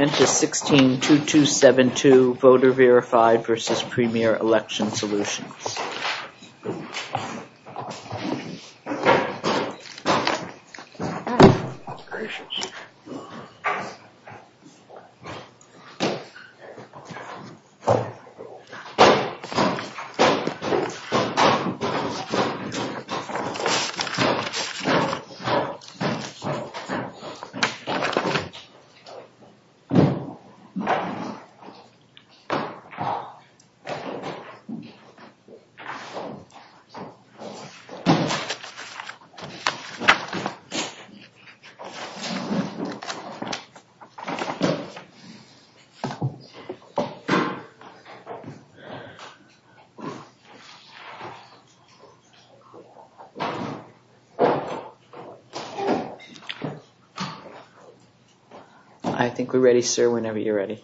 into 16-2272 voter verified versus premier election solutions. Thank you, sir, whenever you're ready.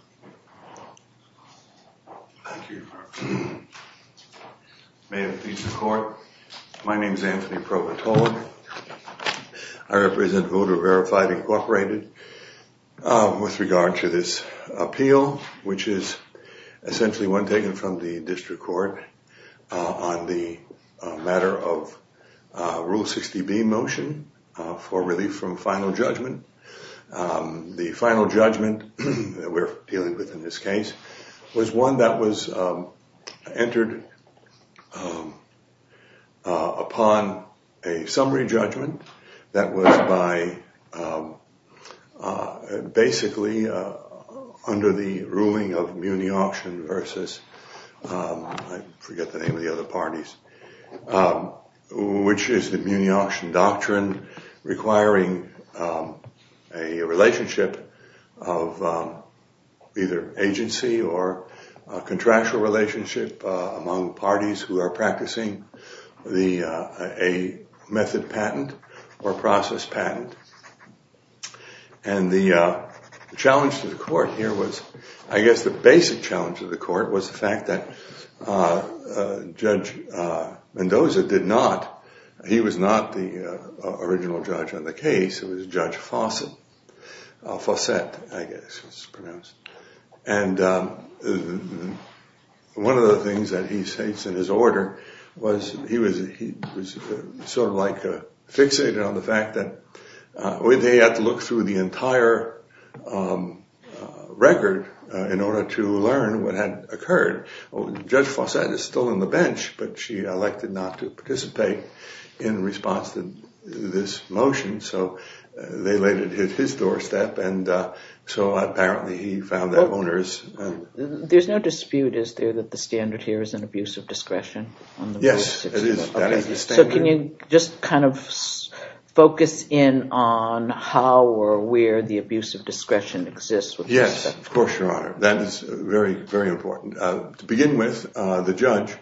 May it please the court, my name is Anthony Provatola, I represent Voter Verified Incorporated with regard to this appeal, which is essentially one taken from the district court on the matter of Rule 60B motion for relief from final judgment. The final judgment that we're dealing with in this case was one that was entered upon a summary judgment that was by basically under the ruling of Muni Auction versus, I forget a relationship of either agency or contractual relationship among parties who are practicing a method patent or process patent and the challenge to the court here was, I guess the basic challenge to the court was the fact that Judge Mendoza did not, he was not the original judge on the case, it was Judge Fawcett, I guess it's pronounced. And one of the things that he states in his order was he was sort of like fixated on the fact that they had to look through the entire record in order to learn what had occurred. Judge Fawcett is still on the bench, but she elected not to participate in response to this motion, so they laid it at his doorstep and so apparently he found that on hers. There's no dispute, is there, that the standard here is an abuse of discretion? Yes, it is, that is the standard. So can you just kind of focus in on how or where the abuse of discretion exists with this? Yes, of course, your honor. That is very, very important. To begin with, the judge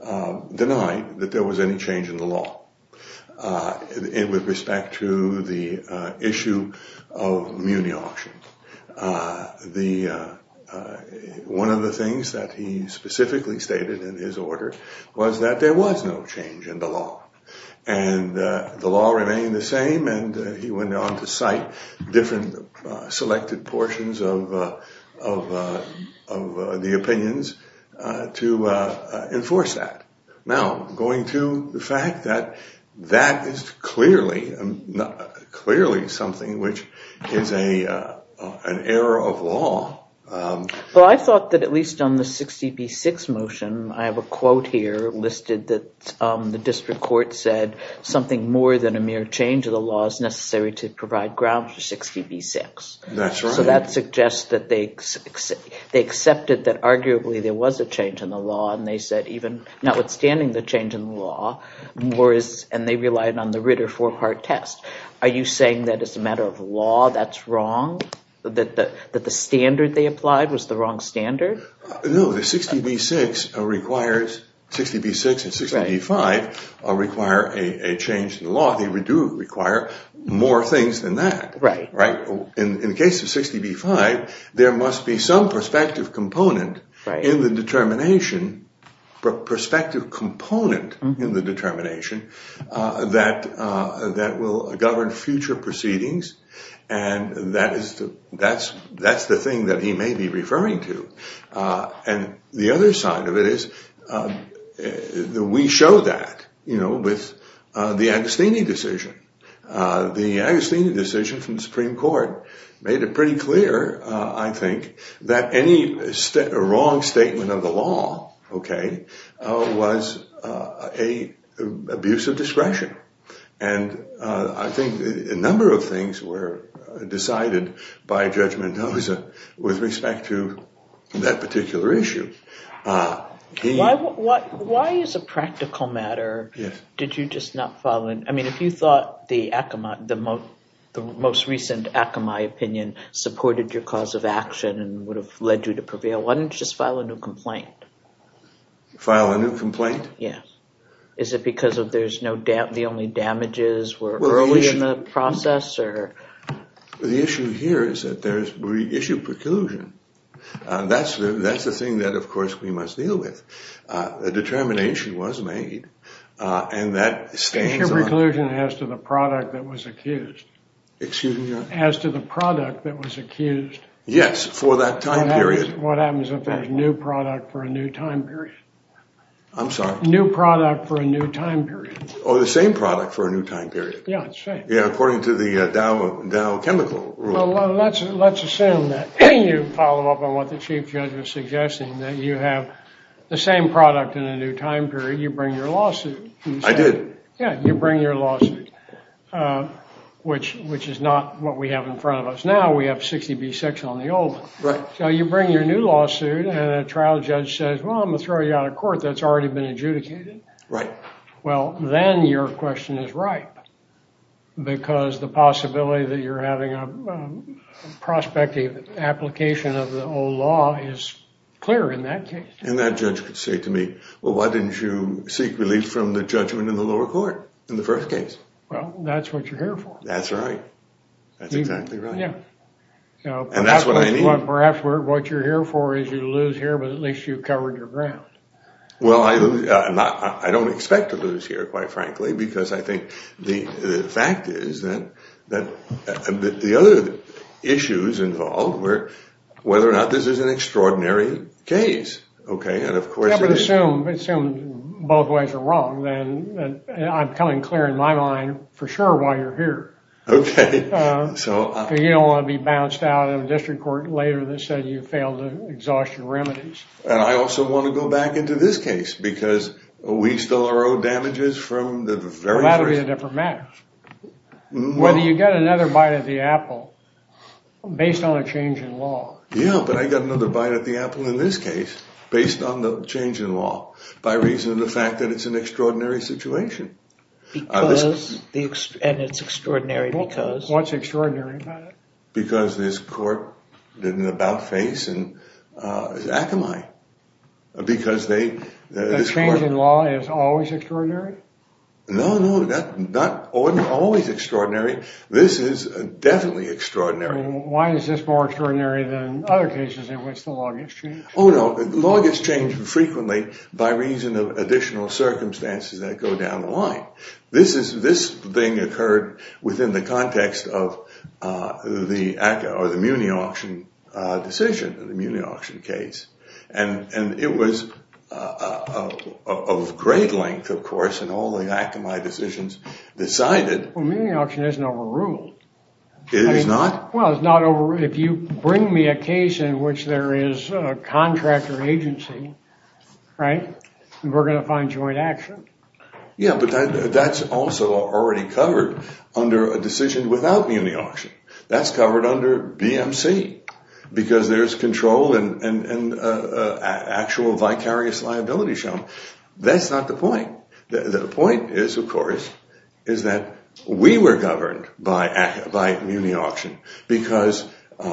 denied that there was any change in the law with respect to the issue of muni auctions. One of the things that he specifically stated in his order was that there was no change in the law and the law remained the same and he went on to cite different selected portions of the opinions to enforce that. Now, going to the fact that that is clearly something which is an error of law. Well, I thought that at least on the 60B6 motion, I have a quote here listed that the district court said something more than a mere change of the law is necessary to provide grounds for 60B6. That's right. So that suggests that they accepted that arguably there was a change in the law and they said even notwithstanding the change in the law, and they relied on the Ritter four-part test. Are you saying that as a matter of law that's wrong, that the standard they applied was the wrong standard? No, the 60B6 requires, 60B6 and 60B5 require a change in the law, they do require more things than that. Right. Right. In the case of 60B5, there must be some perspective component in the determination, perspective component in the determination that will govern future proceedings and that's the thing that he may be referring to. And the other side of it is that we show that with the Agostini decision. The Agostini decision from the Supreme Court made it pretty clear, I think, that any wrong statement of the law, okay, was an abuse of discretion. And I think a number of things were decided by Judge Mendoza with respect to that particular issue. Why as a practical matter did you just not follow it? I mean, if you thought the Akamai, the most recent Akamai opinion supported your cause of action and would have led you to prevail, why didn't you just file a new complaint? File a new complaint? Yes. Is it because of there's no doubt the only damages were early in the process or? The issue here is that there's reissued preclusion. That's the thing that, of course, we must deal with. A determination was made and that stands on- Your preclusion as to the product that was accused. Excuse me? As to the product that was accused. Yes, for that time period. What happens if there's new product for a new time period? I'm sorry? New product for a new time period. Oh, the same product for a new time period. Yeah, it's the same. Yeah, according to the Dow Chemical Rule. Let's assume that you follow up on what the Chief Judge was suggesting, that you have the same product in a new time period, you bring your lawsuit. I did. Yeah, you bring your lawsuit, which is not what we have in front of us now. We have 60B6 on the old one. So you bring your new lawsuit and a trial judge says, well, I'm going to throw you out of court, that's already been adjudicated. Right. Well, then your question is ripe because the possibility that you're having a prospective application of the old law is clear in that case. And that judge could say to me, well, why didn't you seek relief from the judgment in the lower court in the first case? Well, that's what you're here for. That's right. That's exactly right. Yeah. And that's what I need. Perhaps what you're here for is you lose here, but at least you've covered your ground. Well, I don't expect to lose here, quite frankly, because I think the fact is that the other issues involved were whether or not this is an extraordinary case. Okay. And of course, Assume both ways are wrong. Then I'm coming clear in my mind for sure why you're here. Okay. So you don't want to be bounced out of district court later that said you failed to exhaust your remedies. And I also want to go back into this case because we still are owed damages from the very first. Well, that would be a different matter. Whether you get another bite of the apple based on a change in law. Yeah, but I got another bite of the apple in this case based on the change in law by reason of the fact that it's an extraordinary situation. And it's extraordinary because? What's extraordinary about it? Because this court didn't about face in Akamai. The change in law is always extraordinary? No, no. Not always extraordinary. This is definitely extraordinary. Why is this more extraordinary than other cases in which the law gets changed? Oh, no. Law gets changed frequently by reason of additional circumstances that go down the line. This is this thing occurred within the context of the Muni Auction decision, the Muni Auction case. And it was of great length, of course, in all the Akamai decisions decided. Well, Muni Auction isn't overruled. It is not? Well, it's not overruled. If you bring me a case in which there is a contractor agency, right, we're going to find joint action. Yeah, but that's also already covered under a decision without Muni Auction. That's covered under BMC because there's control and actual vicarious liability shown. That's not the point. The point is, of course, is that we were governed by Muni Auction because we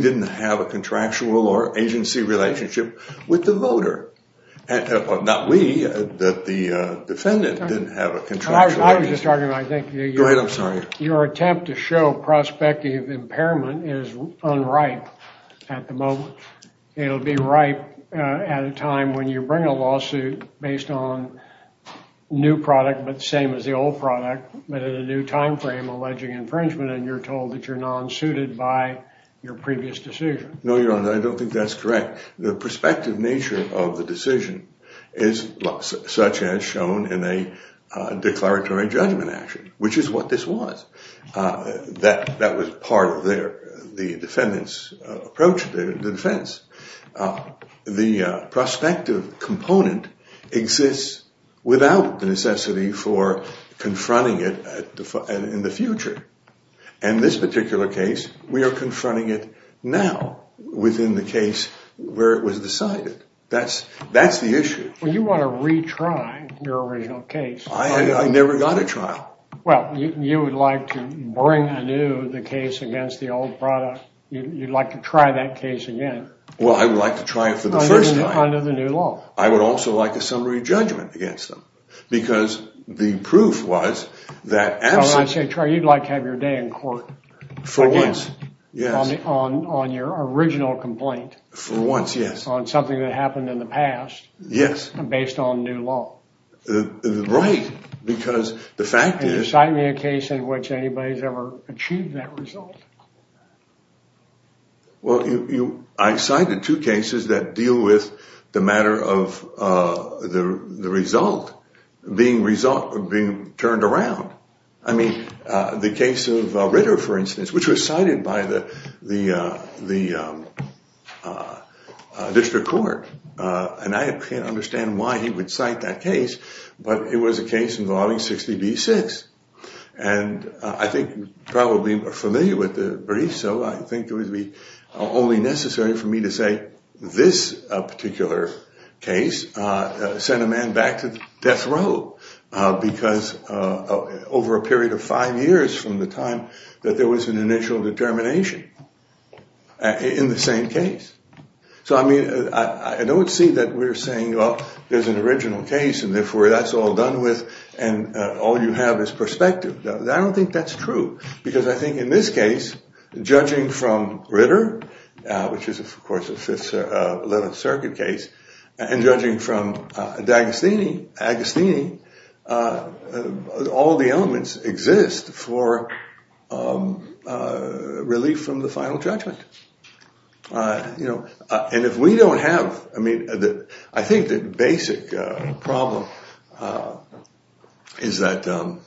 didn't have a contractual or agency relationship with the voter. Not we, the defendant didn't have a contractual. Go ahead. I'm sorry. Your attempt to show prospective impairment is unripe at the moment. It'll be ripe at a time when you bring a lawsuit based on new product, but the same as the old product, but at a new timeframe alleging infringement, and you're told that you're non-suited by your previous decision. No, Your Honor, I don't think that's correct. In fact, the prospective nature of the decision is such as shown in a declaratory judgment action, which is what this was. That was part of the defendant's approach to the defense. The prospective component exists without the necessity for confronting it in the future. In this particular case, we are confronting it now within the case where it was decided. That's the issue. Well, you want to retry your original case. I never got a trial. Well, you would like to bring anew the case against the old product. You'd like to try that case again. Well, I would like to try it for the first time. Under the new law. I would also like a summary judgment against them because the proof was that absent… Well, I say, Trey, you'd like to have your day in court. For once, yes. On your original complaint. For once, yes. On something that happened in the past. Yes. Based on new law. Right, because the fact is… Can you cite me a case in which anybody's ever achieved that result? Well, I've cited two cases that deal with the matter of the result being turned around. I mean, the case of Ritter, for instance, which was cited by the district court. And I can't understand why he would cite that case, but it was a case involving 60B6. And I think you're probably familiar with the brief, so I think it would be only necessary for me to say this particular case sent a man back to death row. Because over a period of five years from the time that there was an initial determination in the same case. So, I mean, I don't see that we're saying, well, there's an original case and therefore that's all done with and all you have is perspective. I don't think that's true. Because I think in this case, judging from Ritter, which is, of course, a 11th Circuit case, and judging from Agostini, all the elements exist for relief from the final judgment. And if we don't have, I mean, I think the basic problem is that the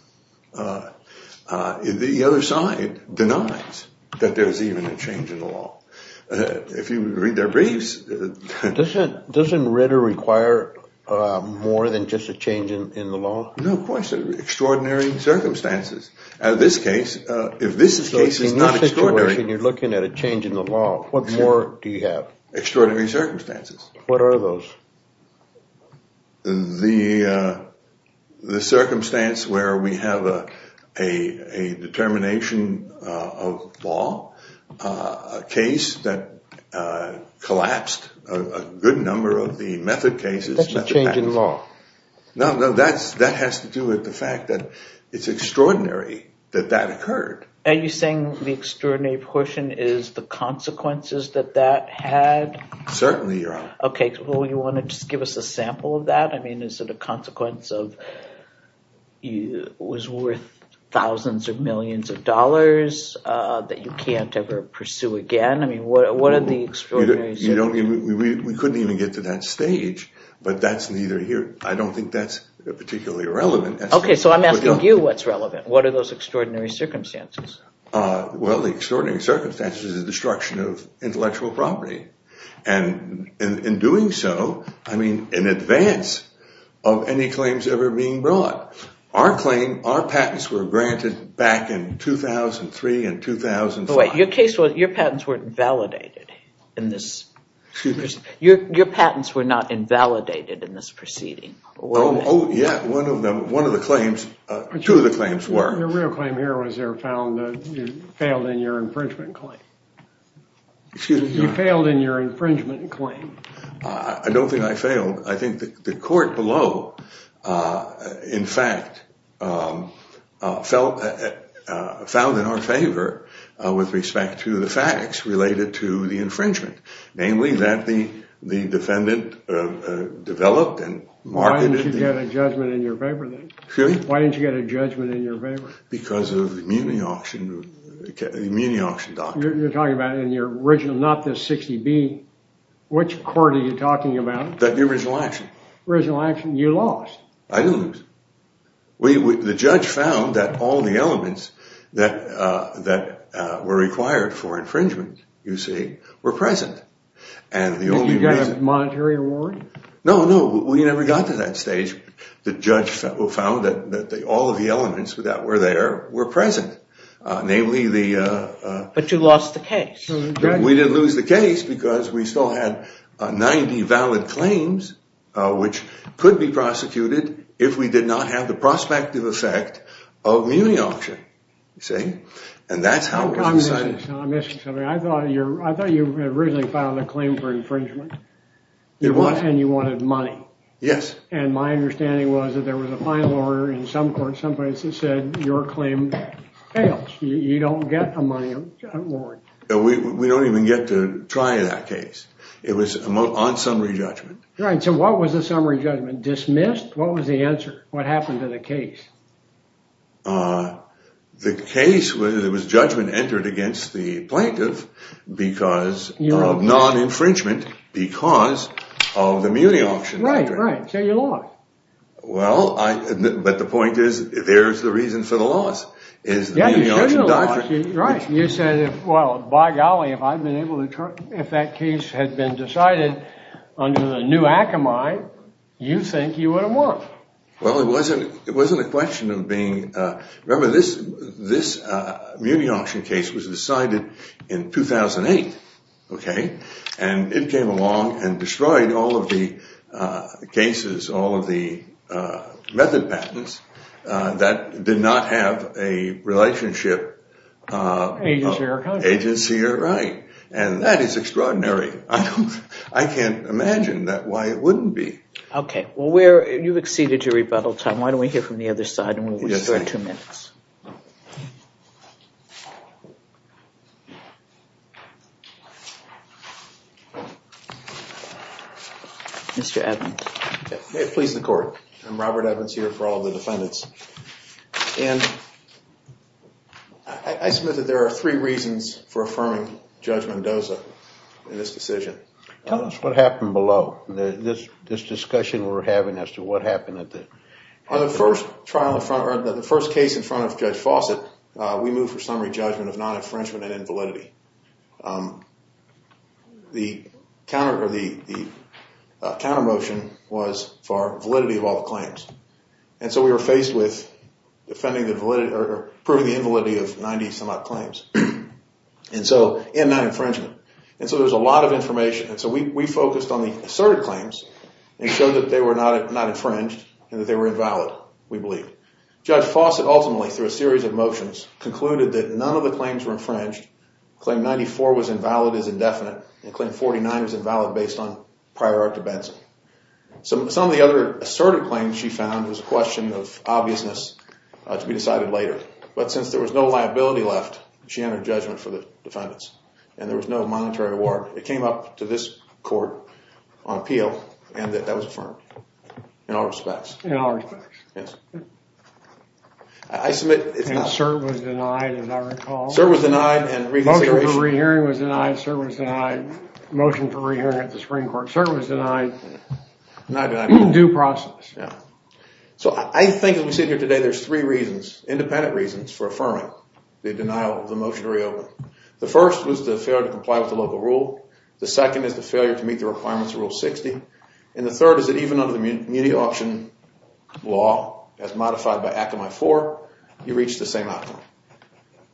other side denies that there's even a change in the law. If you read their briefs. Doesn't Ritter require more than just a change in the law? No, of course, extraordinary circumstances. So in this situation you're looking at a change in the law. What more do you have? Extraordinary circumstances. What are those? The circumstance where we have a determination of law, a case that collapsed a good number of the method cases. That's a change in law. No, no, that has to do with the fact that it's extraordinary that that occurred. Are you saying the extraordinary portion is the consequences that that had? Certainly, Your Honor. Okay, well, you want to just give us a sample of that? I mean, is it a consequence of it was worth thousands of millions of dollars that you can't ever pursue again? I mean, what are the extraordinary circumstances? We couldn't even get to that stage, but that's neither here. I don't think that's particularly relevant. Okay, so I'm asking you what's relevant. What are those extraordinary circumstances? Well, the extraordinary circumstances is the destruction of intellectual property. And in doing so, I mean, in advance of any claims ever being brought. Our claim, our patents were granted back in 2003 and 2005. By the way, your patents were not invalidated in this proceeding. Oh, yeah. One of the claims, two of the claims were. Your real claim here was you failed in your infringement claim. You failed in your infringement claim. I don't think I failed. I think the court below, in fact, found in our favor with respect to the facts related to the infringement. Namely, that the defendant developed and marketed. Why didn't you get a judgment in your favor then? Really? Why didn't you get a judgment in your favor? Because of the immunity auction doctrine. You're talking about in your original, not the 60B. Which court are you talking about? The original action. Original action, you lost. I didn't lose. The judge found that all the elements that were required for infringement, you see, were present. And you got a monetary reward? No, no. We never got to that stage. The judge found that all of the elements that were there were present. Namely, the... But you lost the case. We didn't lose the case because we still had 90 valid claims, which could be prosecuted if we did not have the prospective effect of immunity auction. You see? And that's how it was decided. I'm missing something. I thought you originally filed a claim for infringement. You wanted... And you wanted money. Yes. And my understanding was that there was a final order in some courts, some places, that said your claim fails. You don't get a money reward. We don't even get to try that case. It was on summary judgment. Right. So what was the summary judgment? Dismissed? What was the answer? What happened to the case? The case was... It was judgment entered against the plaintiff because of non-infringement because of the immunity auction doctrine. Right, right. So you lost. Well, I... But the point is, there's the reason for the loss, is the immunity auction doctrine. Right. You said, well, by golly, if I'd been able to turn... If that case had been decided under the new Akamai, you think you would have won. Well, it wasn't a question of being... Remember, this immunity auction case was decided in 2008, okay? And it came along and destroyed all of the cases, all of the method patents that did not have a relationship... Agency or contract. Agency or right. And that is extraordinary. I can't imagine why it wouldn't be. Okay. Well, you've exceeded your rebuttal time. Why don't we hear from the other side and we'll restore two minutes. Mr. Evans. May it please the court. I'm Robert Evans here for all the defendants. And I submit that there are three reasons for affirming Judge Mendoza in this decision. Tell us. What happened below. This discussion we're having as to what happened at the... On the first trial, the first case in front of Judge Fawcett, we moved for summary judgment of non-infringement and invalidity. The counter motion was for validity of all the claims. And so we were faced with defending the validity or proving the invalidity of 90 some odd claims. And so, and non-infringement. And so there's a lot of information. And so we focused on the asserted claims and showed that they were not infringed and that they were invalid, we believe. Judge Fawcett ultimately, through a series of motions, concluded that none of the claims were infringed. Claim 94 was invalid as indefinite. And claim 49 was invalid based on prior art to Benson. Some of the other asserted claims she found was a question of obviousness to be decided later. But since there was no liability left, she entered judgment for the defendants. And there was no monetary reward. It came up to this court on appeal and that that was affirmed in all respects. In all respects. Yes. I submit it's not. And cert was denied, as I recall. Cert was denied and reconsideration. Motion for re-hearing was denied, cert was denied. Motion for re-hearing at the Supreme Court. Cert was denied. Not denied. Due process. Yeah. So I think as we sit here today, there's three reasons, independent reasons, for affirming the denial of the motion to reopen. The first was the failure to comply with the local rule. The second is the failure to meet the requirements of Rule 60. And the third is that even under the Munity Auction Law, as modified by Act of my four, you reach the same outcome.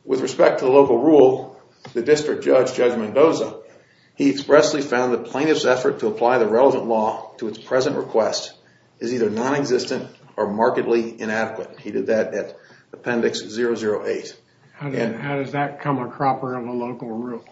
With respect to the local rule, the district judge, Judge Mendoza, he expressly found the plaintiff's effort to apply the relevant law to its present request is either non-existent or markedly inadequate. He did that at Appendix 008. How does that come a cropper of a local rule?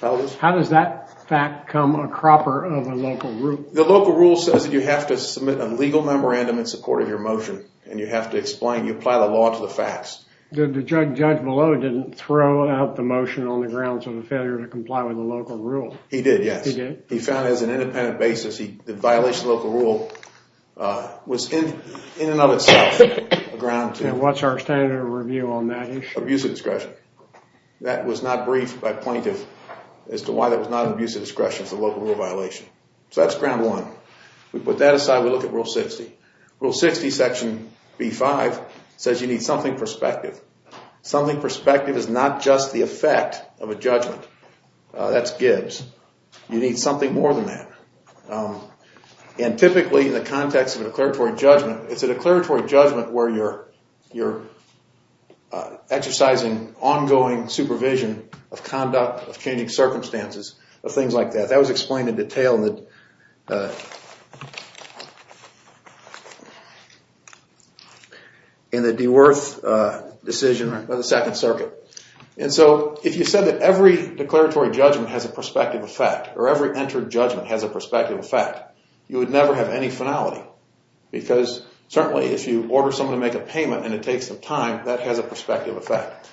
How does that fact come a cropper of a local rule? The local rule says that you have to submit a legal memorandum in support of your motion. And you have to explain, you apply the law to the facts. The judge below didn't throw out the motion on the grounds of a failure to comply with the local rule. He did, yes. He did? He found as an independent basis, the violation of the local rule was in and of itself a ground to... And what's our standard of review on that issue? Abuse of discretion. That was not briefed by plaintiff as to why that was not abuse of discretion as a local rule violation. So that's ground one. We put that aside. We look at Rule 60. Rule 60, Section B-5 says you need something prospective. Something prospective is not just the effect of a judgment. That's Gibbs. You need something more than that. And typically in the context of a declaratory judgment, it's a declaratory judgment where you're exercising ongoing supervision of conduct, of changing circumstances, of things like that. That was explained in detail in the DeWerth decision of the Second Circuit. And so if you said that every declaratory judgment has a prospective effect or every entered judgment has a prospective effect, you would never have any finality because certainly if you order someone to make a payment and it takes some time, that has a prospective effect.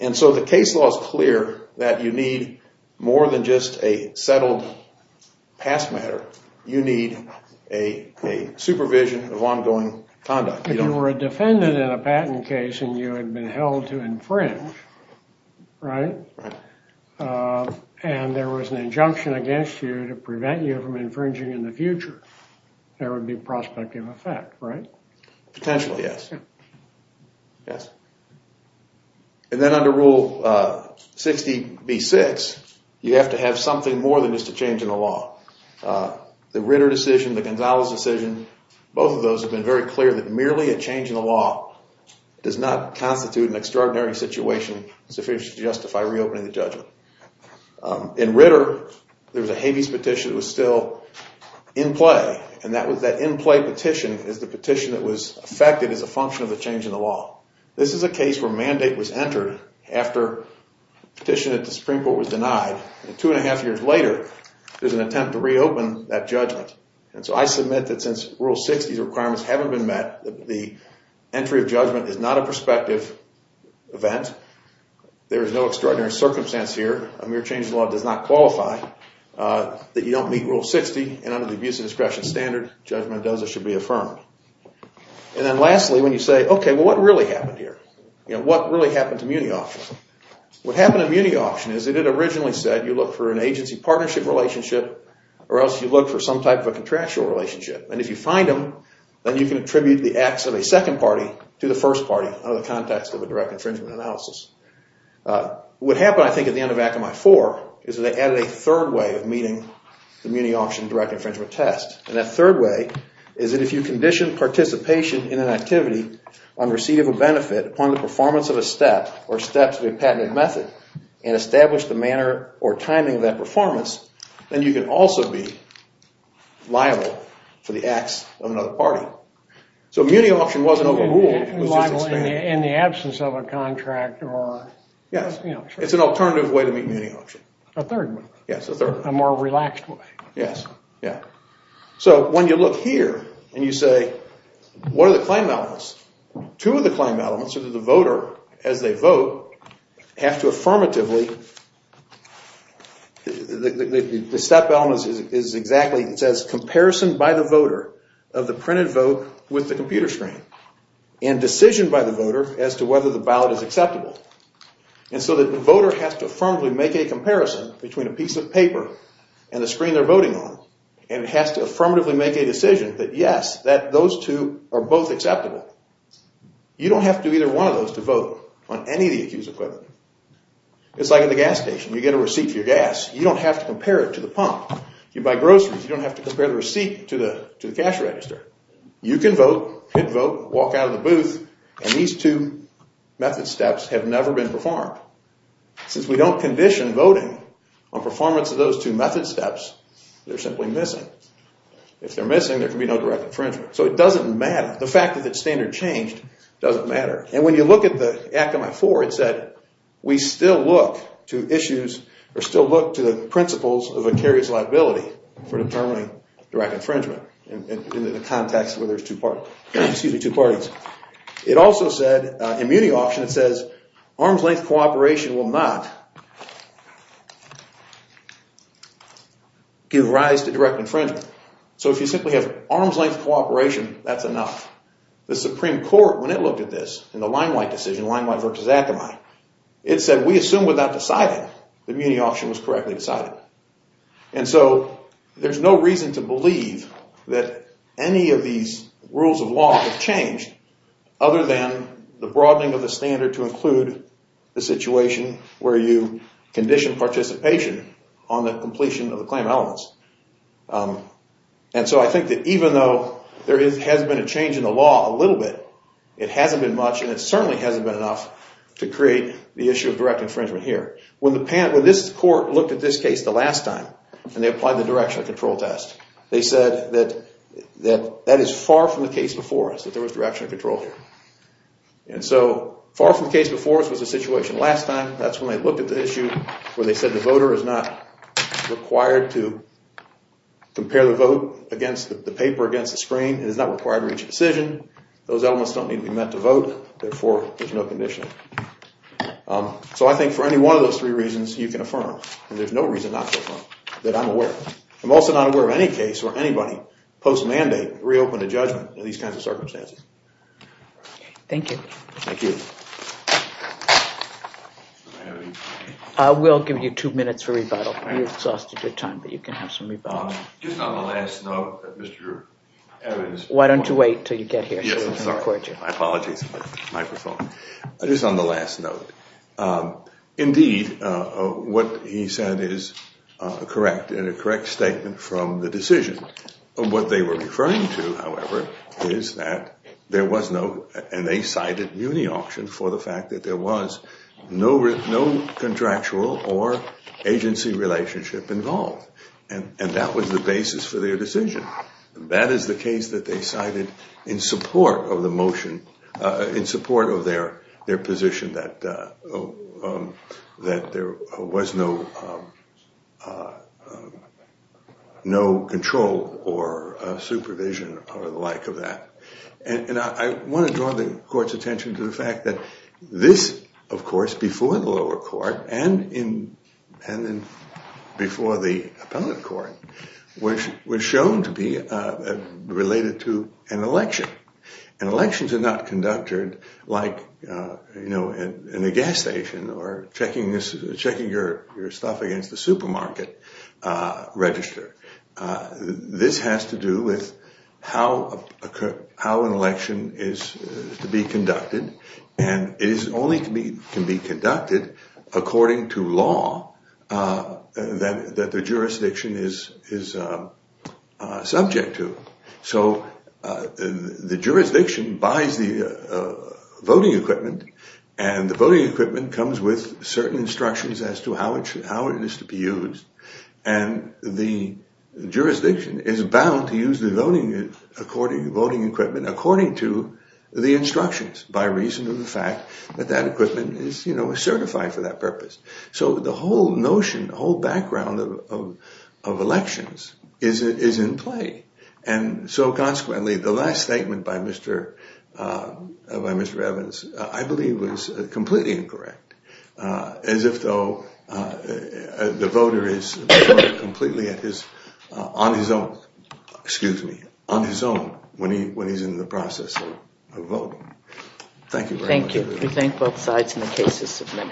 And so the case law is clear that you need more than just a settled past matter. You need a supervision of ongoing conduct. If you were a defendant in a patent case and you had been held to infringe, right, and there was an injunction against you to prevent you from infringing in the future, there would be prospective effect, right? Potentially, yes. Yes. And then under Rule 60B-6, you have to have something more than just a change in the law. The Ritter decision, the Gonzalez decision, both of those have been very clear that merely a change in the law does not constitute an extraordinary situation sufficient to justify reopening the judgment. In Ritter, there was a habeas petition that was still in play, and that in-play petition is the petition that was affected as a function of the change in the law. This is a case where mandate was entered after the petition at the Supreme Court was denied, and two and a half years later, there's an attempt to reopen that judgment. And so I submit that since Rule 60's requirements haven't been met, the entry of judgment is not a prospective event. There is no extraordinary circumstance here. A mere change in the law does not qualify that you don't meet Rule 60, and under the abuse of discretion standard, judgment as it should be affirmed. And then lastly, when you say, okay, well, what really happened here? You know, what really happened to Muni Auction? What happened to Muni Auction is that it originally said you look for an agency-partnership relationship or else you look for some type of a contractual relationship. And if you find them, then you can attribute the acts of a second party to the first party under the context of a direct infringement analysis. What happened, I think, at the end of Act of May 4 is that they added a third way of meeting the Muni Auction direct infringement test. upon the performance of a step or steps of a patented method and establish the manner or timing of that performance, then you can also be liable for the acts of another party. So Muni Auction wasn't overruled. It was just expanded. In the absence of a contract or... Yes, it's an alternative way to meet Muni Auction. A third way. Yes, a third way. A more relaxed way. Yes, yeah. So when you look here and you say, what are the claim elements? Two of the claim elements are that the voter, as they vote, have to affirmatively... The step element is exactly... It says comparison by the voter of the printed vote with the computer screen and decision by the voter as to whether the ballot is acceptable. And so the voter has to affirmatively make a comparison between a piece of paper and the screen they're voting on and it has to affirmatively make a decision that, yes, that those two are both acceptable. You don't have to do either one of those to vote on any of the accused equipment. It's like at the gas station. You get a receipt for your gas. You don't have to compare it to the pump. You buy groceries. You don't have to compare the receipt to the cash register. You can vote, hit vote, walk out of the booth, and these two method steps have never been performed. Since we don't condition voting on performance of those two method steps, they're simply missing. If they're missing, there can be no direct infringement. So it doesn't matter. The fact that it's standard changed doesn't matter. And when you look at the Act on my floor, it said we still look to issues or still look to the principles of a carrier's liability for determining direct infringement in the context where there's two parties. It also said immunity option, it says, arm's-length cooperation will not give rise to direct infringement. So if you simply have arm's-length cooperation, that's enough. The Supreme Court, when it looked at this in the Limelight decision, Limelight v. Akamai, it said we assume without deciding that immunity option was correctly decided. And so there's no reason to believe that any of these rules of law have changed other than the broadening of the standard to include the situation where you condition participation on the completion of the claim elements. And so I think that even though there has been a change in the law a little bit, it hasn't been much, and it certainly hasn't been enough to create the issue of direct infringement here. When this court looked at this case the last time and they applied the directional control test, they said that that is far from the case before us, that there was directional control here. And so far from the case before us was the situation last time. That's when they looked at the issue where they said the voter is not required to compare the vote against the paper against the screen. It is not required to reach a decision. Those elements don't need to be met to vote. Therefore, there's no conditioning. So I think for any one of those three reasons, you can affirm, and there's no reason not to affirm, that I'm aware. I'm also not aware of any case where anybody post-mandate reopened a judgment in these kinds of circumstances. Thank you. Thank you. Do I have any time? We'll give you two minutes for rebuttal. You've exhausted your time, but you can have some rebuttal. Just on the last note, Mr. Evans. Why don't you wait until you get here? Yes, I'm sorry. I apologize for the microphone. Just on the last note, indeed, what he said is correct and a correct statement from the decision. What they were referring to, however, is that there was no, and they cited uniauction for the fact that there was no contractual or agency relationship involved. And that was the basis for their decision. That is the case that they cited in support of the motion, in support of their position that there was no control or supervision or the like of that. And I want to draw the court's attention to the fact that this, of course, before the lower court and before the appellate court, was shown to be related to an election. And elections are not conducted like, you know, in a gas station or checking your stuff against the supermarket register. This has to do with how an election is to be conducted, and it only can be conducted according to law that the jurisdiction is subject to. So the jurisdiction buys the voting equipment, and the voting equipment comes with certain instructions as to how it is to be used. And the jurisdiction is bound to use the voting equipment according to the instructions by reason of the fact that that equipment is certified for that purpose. So the whole notion, the whole background of elections is in play. And so consequently, the last statement by Mr. Evans I believe was completely incorrect, as if though the voter is completely on his own when he's in the process of voting. Thank you very much. Thank you. We thank both sides, and the case is submitted.